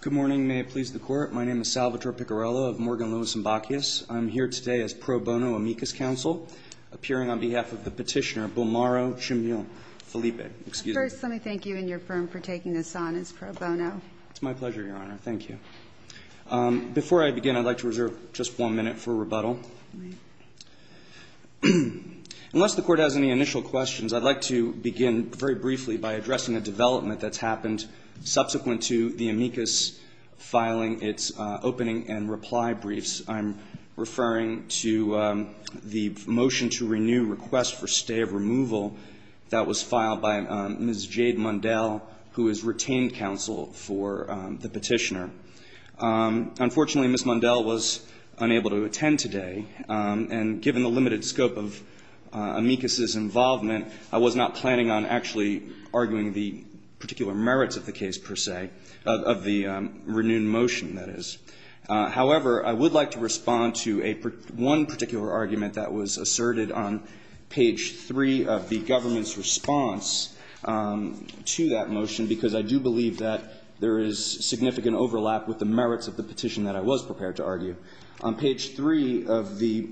Good morning. May it please the Court. My name is Salvatore Piccarello of Morgan, Lewis & Bacchius. I'm here today as pro bono amicus counsel, appearing on behalf of the petitioner, Bulmaro Chimil-Felipe. First, let me thank you and your firm for taking this on as pro bono. It's my pleasure, Your Honor. Thank you. Before I begin, I'd like to reserve just one minute for rebuttal. I'd like to begin very briefly by addressing a development that's happened subsequent to the amicus filing its opening and reply briefs. I'm referring to the motion to renew request for stay of removal that was filed by Ms. Jade Mundell, who is retained counsel for the petitioner. Unfortunately, Ms. Mundell was unable to attend today, and given the limited scope of amicus's involvement, I was not planning on actually arguing the particular merits of the case, per se, of the renewed motion, that is. However, I would like to respond to one particular argument that was asserted on page 3 of the government's response to that motion, because I do believe that there is significant overlap with the merits of the petition that I was prepared to argue. On page 3 of the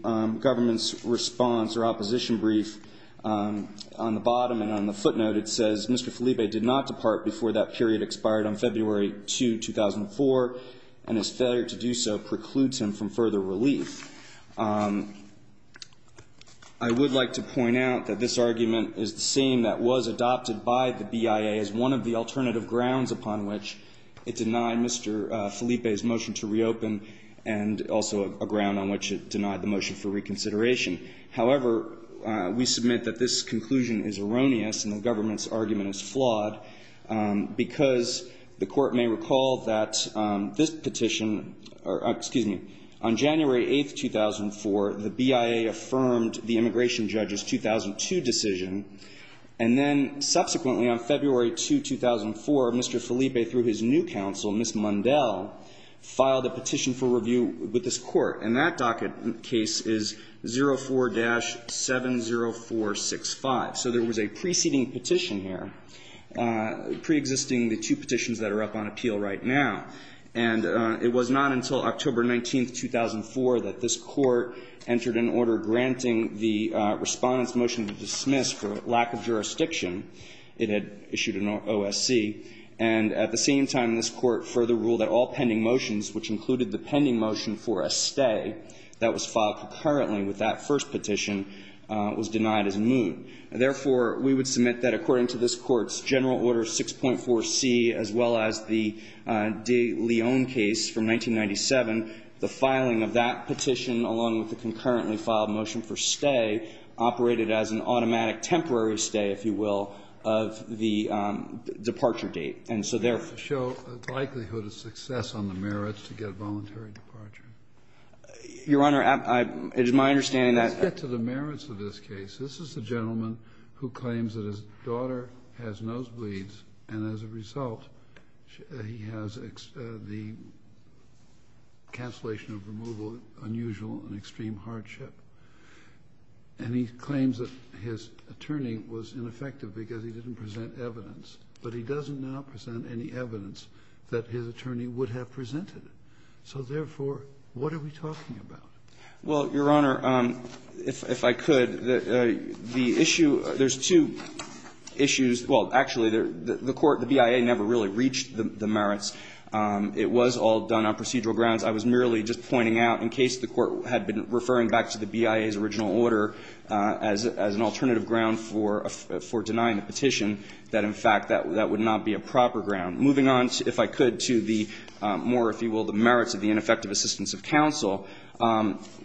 government's response or opposition brief, on the bottom and on the footnote, it says, Mr. Felipe did not depart before that period expired on February 2, 2004, and his failure to do so precludes him from further relief. I would like to point out that this argument is the same that was adopted by the BIA as one of the alternative grounds upon which it denied Mr. Felipe's motion to reopen, and also a ground on which it denied the motion for reconsideration. However, we submit that this conclusion is erroneous and the government's argument is flawed, because the Court may recall that this petition, or excuse me, on January 8, 2004, the BIA affirmed the immigration judge's 2002 decision, and then subsequently on February 2, 2004, Mr. Felipe, through his new counsel, Ms. Mundell, filed a petition for review with this Court. And that docket case is 04-70465. So there was a preceding petition here, preexisting the two petitions that are up on appeal right now, and it was not until October 19, 2004, that this Court entered an order granting the Respondent's motion to dismiss for lack of jurisdiction. It had issued an OSC. And at the same time, this Court further ruled that all pending motions, which included the pending motion for a stay that was filed concurrently with that first petition, was denied as moot. Therefore, we would submit that according to this Court's General Order 6.4c, as well as the De Leon case from 1997, the filing of that petition along with the concurrently filed motion for stay operated as an automatic temporary stay, if you will, of the departure date. And so therefore we are going to have to show the likelihood of success on the merits to get voluntary departure. Your Honor, it is my understanding that Let's get to the merits of this case. This is a gentleman who claims that his daughter has nosebleeds, and as a result, he has the cancellation of removal, unusual and extreme hardship. And he claims that his attorney was ineffective because he didn't present evidence. But he doesn't now present any evidence that his attorney would have presented. So therefore, what are we talking about? Well, Your Honor, if I could, the issue – there's two issues. Well, actually, the court, the BIA, never really reached the merits. It was all done on procedural grounds. I was merely just pointing out in case the Court had been referring back to the BIA's petition that, in fact, that would not be a proper ground. Moving on, if I could, to the more, if you will, the merits of the ineffective assistance of counsel,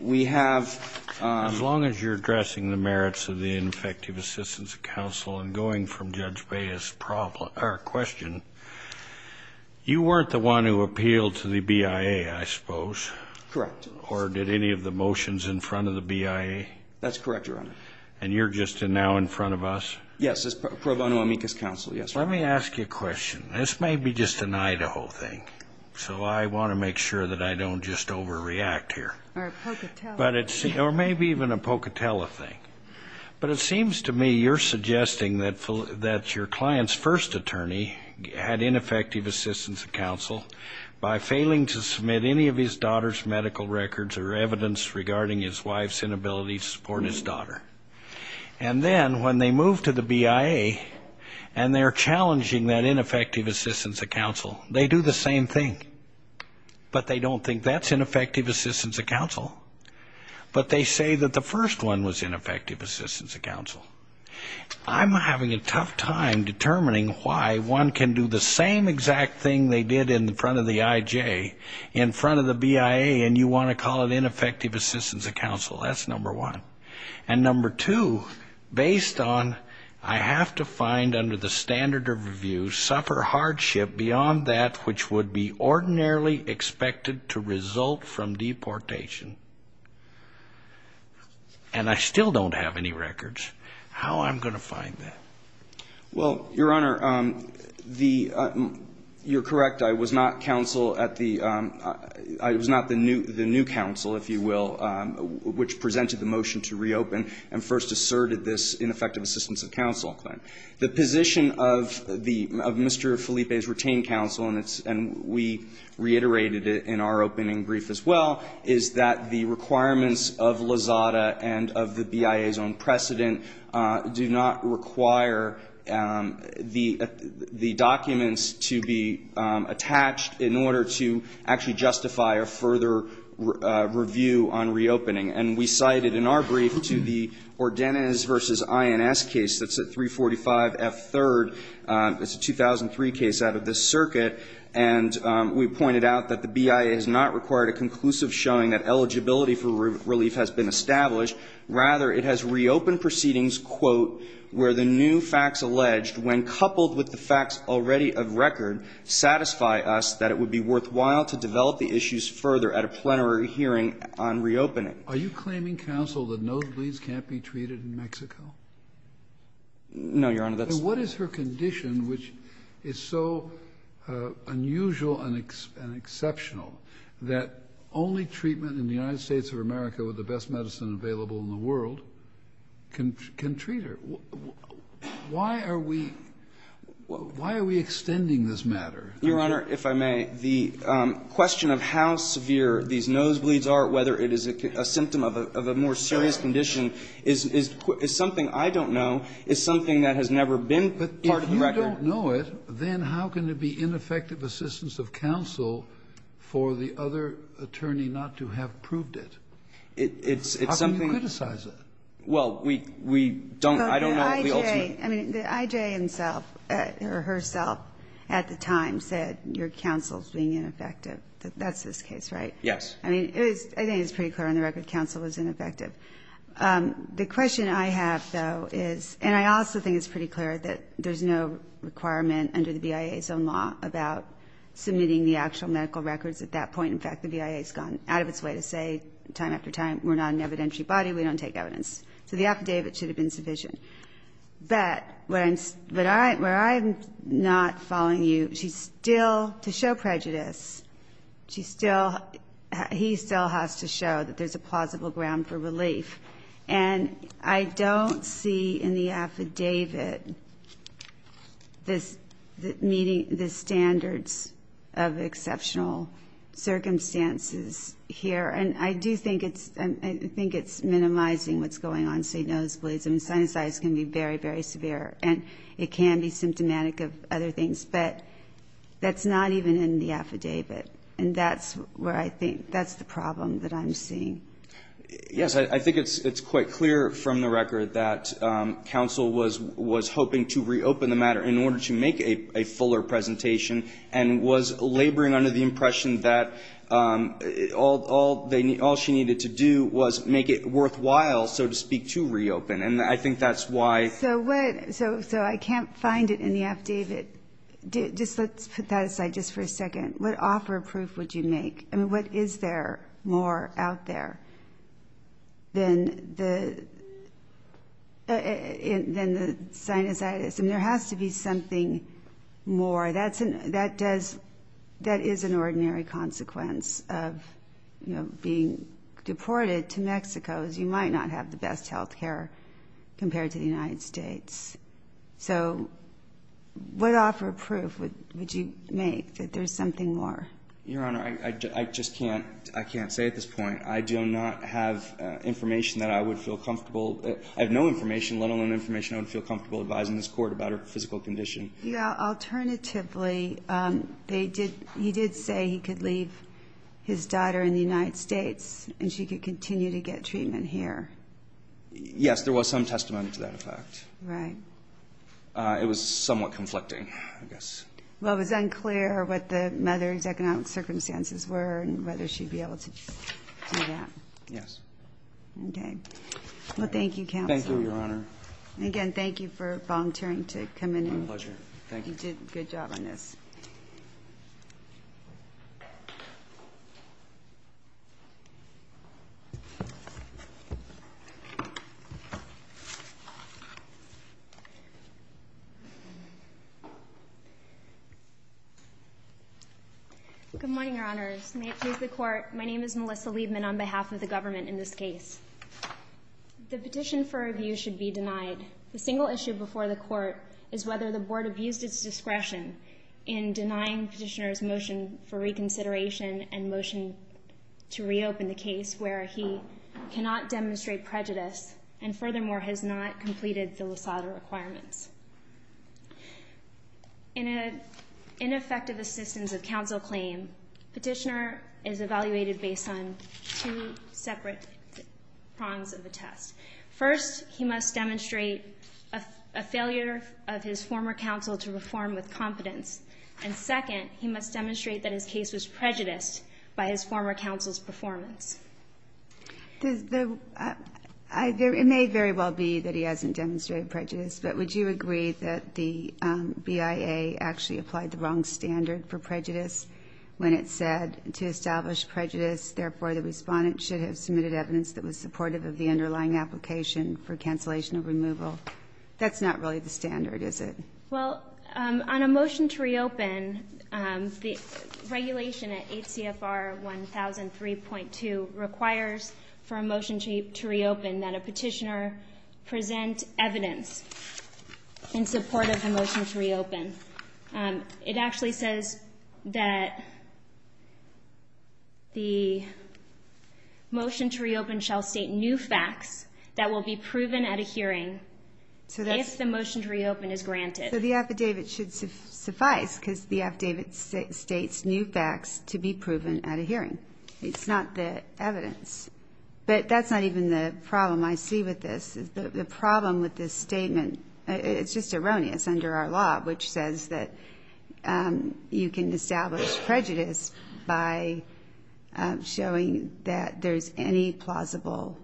we have As long as you're addressing the merits of the ineffective assistance of counsel and going from Judge Baez's question, you weren't the one who appealed to the BIA, I suppose. Correct. Or did any of the motions in front of the BIA? That's correct, Your Honor. And you're just now in front of us? Yes, as pro bono amicus counsel, yes. Let me ask you a question. This may be just an Idaho thing, so I want to make sure that I don't just overreact here. Or a Pocatello thing. Or maybe even a Pocatello thing. But it seems to me you're suggesting that your client's first attorney had ineffective assistance of counsel by failing to submit any of his daughter's medical records or evidence regarding his wife's inability to support his daughter. And then when they move to the BIA and they're challenging that ineffective assistance of counsel, they do the same thing. But they don't think that's ineffective assistance of counsel. But they say that the first one was ineffective assistance of counsel. I'm having a tough time determining why one can do the same exact thing they did in front of the IJ in front of the BIA and you want to call it ineffective assistance of counsel. That's number one. And number two, based on I have to find under the standard of review, suffer hardship beyond that which would be ordinarily expected to result from deportation. And I still don't have any records. How am I going to find that? Well, Your Honor, you're correct. I was not counsel at the, I was not the new counsel, if you will, which presented the motion to reopen and first asserted this ineffective assistance of counsel claim. The position of Mr. Felipe's retained counsel, and we reiterated it in our opening brief as well, is that the requirements of Lozada and of the BIA's own precedent do not require the documents to be attached in order to actually justify a further review on reopening. And we cited in our brief to the Ordenez v. INS case that's at 345F3rd. It's a 2003 case out of this circuit. And we pointed out that the BIA has not required a conclusive showing that eligibility for relief has been established. Rather, it has reopened proceedings, quote, which when coupled with the facts already of record, satisfy us that it would be worthwhile to develop the issues further at a plenary hearing on reopening. Are you claiming, counsel, that nosebleeds can't be treated in Mexico? No, Your Honor. What is her condition, which is so unusual and exceptional, that only treatment in the United States of America with the best medicine available in the world can treat her? Why are we extending this matter? Your Honor, if I may, the question of how severe these nosebleeds are, whether it is a symptom of a more serious condition, is something I don't know, is something that has never been part of the record. But if you don't know it, then how can it be ineffective assistance of counsel for the other attorney not to have proved it? It's something we don't know. I mean, the IJ himself or herself at the time said your counsel is being ineffective. That's his case, right? Yes. I mean, I think it's pretty clear on the record counsel was ineffective. The question I have, though, is, and I also think it's pretty clear that there's no requirement under the BIA's own law about submitting the actual medical records at that point. In fact, the BIA has gone out of its way to say time after time we're not an evidentiary body, we don't take evidence. So the affidavit should have been sufficient. But where I'm not following you, she still, to show prejudice, she still, he still has to show that there's a plausible ground for relief. And I don't see in the affidavit this meeting the standards of exceptional circumstances here. And I do think it's, I think it's minimizing what's going on, say nosebleeds. I mean, sinusitis can be very, very severe. And it can be symptomatic of other things. But that's not even in the affidavit. And that's where I think, that's the problem that I'm seeing. Yes. I think it's quite clear from the record that counsel was hoping to reopen the matter in order to make a fuller presentation and was laboring under the impression that all she needed to do was make it worthwhile, so to speak, to reopen. And I think that's why. So what, so I can't find it in the affidavit. Just let's put that aside just for a second. What offer of proof would you make? I mean, what is there more out there than the sinusitis? I mean, there has to be something more. That does, that is an ordinary consequence of, you know, being deported to Mexico. You might not have the best health care compared to the United States. So what offer of proof would you make that there's something more? Your Honor, I just can't, I can't say at this point. I do not have information that I would feel comfortable, I have no information, let alone information I would feel comfortable advising this court about her physical condition. Alternatively, he did say he could leave his daughter in the United States and she could continue to get treatment here. Yes, there was some testimony to that effect. Right. It was somewhat conflicting, I guess. Well, it was unclear what the mother's economic circumstances were and whether she'd be able to do that. Yes. Okay. Well, thank you, counsel. Thank you, Your Honor. Again, thank you for volunteering to come in. My pleasure. Thank you. You did a good job on this. Good morning, Your Honors. May it please the Court. My name is Melissa Liebman on behalf of the government in this case. The petition for review should be denied. The single issue before the Court is whether the Board abused its discretion in denying Petitioner's motion for reconsideration and motion to reopen the case where he cannot demonstrate prejudice and, furthermore, has not completed the LASADA requirements. In an ineffective assistance of counsel claim, Petitioner is evaluated based on two separate prongs of the test. First, he must demonstrate a failure of his former counsel to perform with confidence. And second, he must demonstrate that his case was prejudiced by his former counsel's performance. It may very well be that he hasn't demonstrated prejudice, but would you agree that the BIA actually applied the wrong standard for prejudice when it said to establish prejudice, therefore the respondent should have submitted evidence that was supportive of the underlying application for cancellation of removal? That's not really the standard, is it? Well, on a motion to reopen, the regulation at 8 CFR 1003.2 requires for a motion to reopen that a Petitioner present evidence in support of the motion to reopen. It actually says that the motion to reopen shall state new facts that will be proven at a hearing if the motion to reopen is granted. So the affidavit should suffice because the affidavit states new facts to be proven at a hearing. It's not the evidence. But that's not even the problem I see with this. The problem with this statement, it's just erroneous under our law, which says that you can establish prejudice by showing that there's any plausible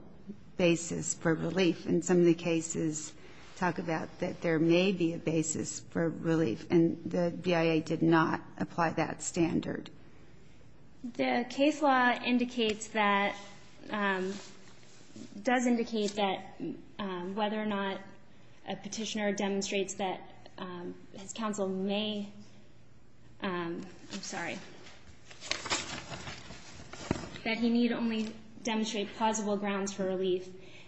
basis for relief. And some of the cases talk about that there may be a basis for relief, and the BIA did not apply that standard. The case law indicates that, does indicate that whether or not a Petitioner demonstrates that his counsel may, I'm sorry, that he need only demonstrate plausible grounds for relief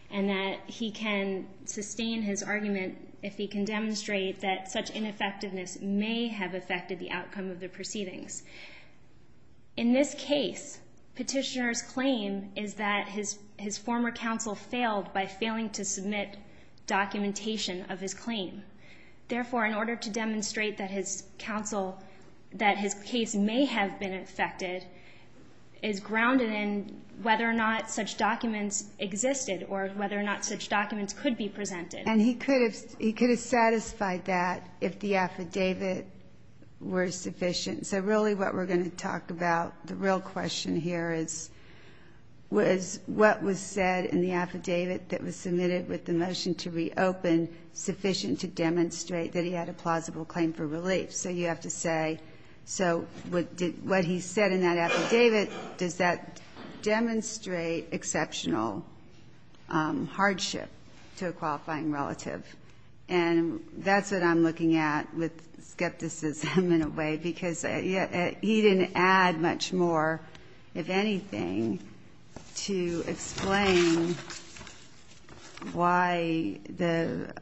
and that he can sustain his argument if he can demonstrate that such ineffectiveness may have affected the outcome of the proceedings. In this case, Petitioner's claim is that his former counsel failed by failing to submit documentation of his claim. Therefore, in order to demonstrate that his counsel, that his case may have been affected is grounded in whether or not such documents existed or whether or not such documents could be presented. And he could have satisfied that if the affidavit were sufficient. So really what we're going to talk about, the real question here is, was what was said in the affidavit that was submitted with the motion to reopen sufficient to demonstrate that he had a plausible claim for relief? So you have to say, so what he said in that affidavit, does that demonstrate exceptional hardship to a qualifying relative? And that's what I'm looking at with skepticism in a way, because he didn't add much more, if anything, to explain why the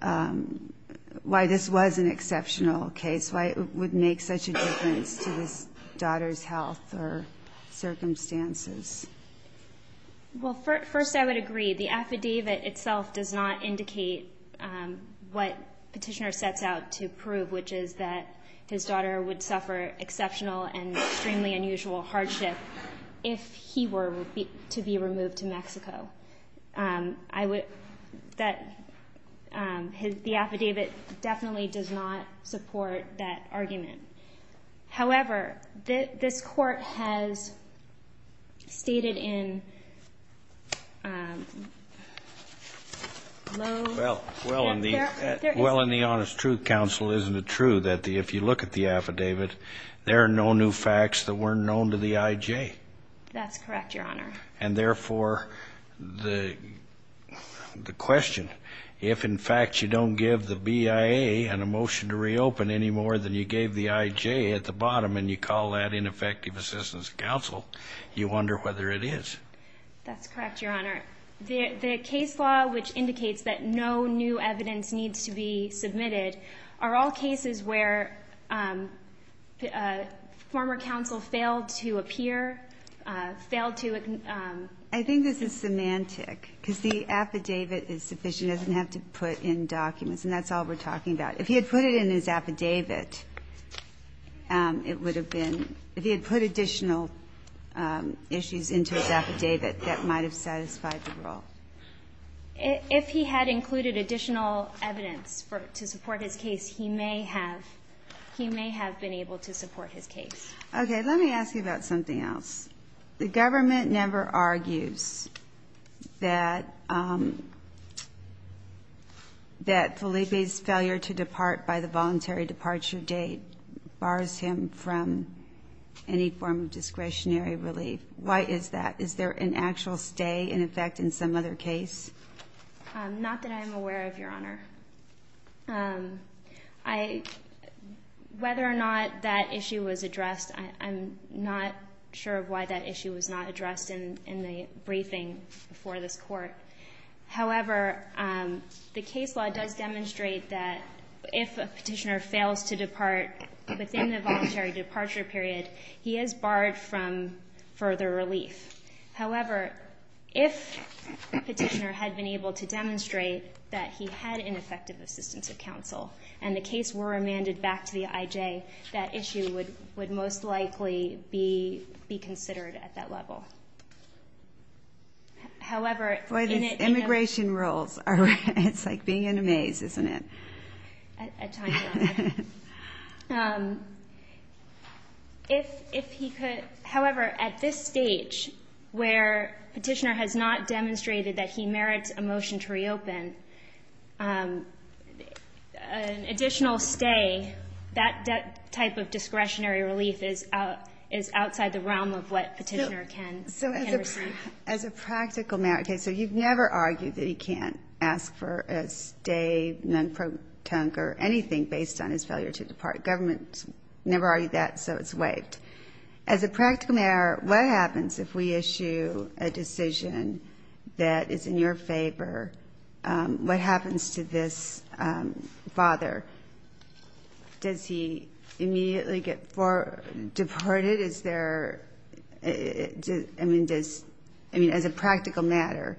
why this was an exceptional case, why it would make such a difference to his daughter's health or circumstances. Well, first I would agree. The affidavit itself does not indicate what Petitioner sets out to prove, which is that his daughter would suffer exceptional and extremely unusual hardship if he were to be removed to Mexico. I would, that, the affidavit definitely does not support that argument. However, this Court has stated in Lowe's. Well, in the Honest Truth Council, isn't it true that if you look at the affidavit, there are no new facts that weren't known to the IJ? That's correct, Your Honor. And therefore, the question, if in fact you don't give the BIA an emotion to reopen any more than you gave the IJ at the bottom and you call that ineffective assistance counsel, you wonder whether it is. That's correct, Your Honor. The case law, which indicates that no new evidence needs to be submitted, are all cases where former counsel failed to appear, failed to ---- I think this is semantic, because the affidavit is sufficient. It doesn't have to put in documents, and that's all we're talking about. If he had put it in his affidavit, it would have been, if he had put additional issues into his affidavit, that might have satisfied the role. If he had included additional evidence to support his case, he may have, he may have been able to support his case. Okay. Let me ask you about something else. The government never argues that Felipe's failure to depart by the voluntary departure date bars him from any form of discretionary relief. Why is that? Is there an actual stay, in effect, in some other case? Not that I'm aware of, Your Honor. Whether or not that issue was addressed, I'm not sure of why that issue was not addressed in the briefing before this Court. However, the case law does demonstrate that if a Petitioner fails to depart within the voluntary departure period, he is barred from further relief. However, if the Petitioner had been able to demonstrate that he had ineffective assistance of counsel, and the case were remanded back to the IJ, that issue would most likely be considered at that level. However, in it... Boy, these immigration rules are, it's like being in a maze, isn't it? At times, Your Honor. If he could, however, at this stage, where Petitioner has not demonstrated that he merits a motion to reopen, an additional stay, that type of discretionary relief is outside the realm of what Petitioner can receive. So as a practical matter, okay, so you've never argued that he can't ask for a stay, non-protonque, or anything based on his failure to depart. Government's never argued that, so it's waived. As a practical matter, what happens if we issue a decision that is in your favor? What happens to this father? Does he immediately get deported? Is there, I mean, does, I mean, as a practical matter,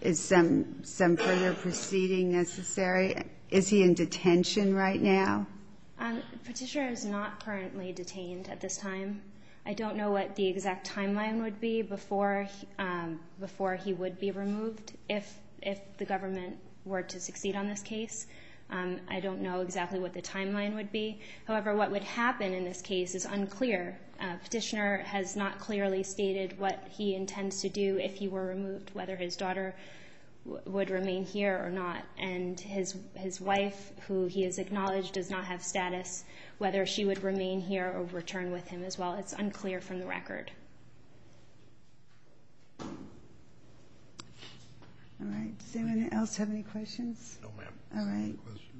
is some further proceeding necessary? Is he in detention right now? Petitioner is not currently detained at this time. I don't know what the exact timeline would be before he would be removed, if the government were to succeed on this case. I don't know exactly what the timeline would be. However, what would happen in this case is unclear. Petitioner has not clearly stated what he intends to do if he were removed, whether his daughter would remain here or not. And his wife, who he has acknowledged does not have status, whether she would remain here or return with him as well. It's unclear from the record. All right. Does anyone else have any questions? No, ma'am. All right.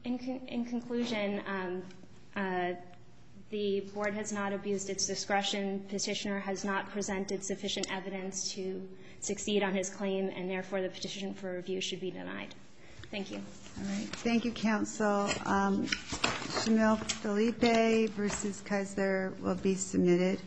In conclusion, the Board has not abused its discretion. Petitioner has not presented sufficient evidence to succeed on his claim, and therefore the petition for review should be denied. Thank you. All right. Thank you, counsel. Shamil Felipe v. Kaiser will be submitted.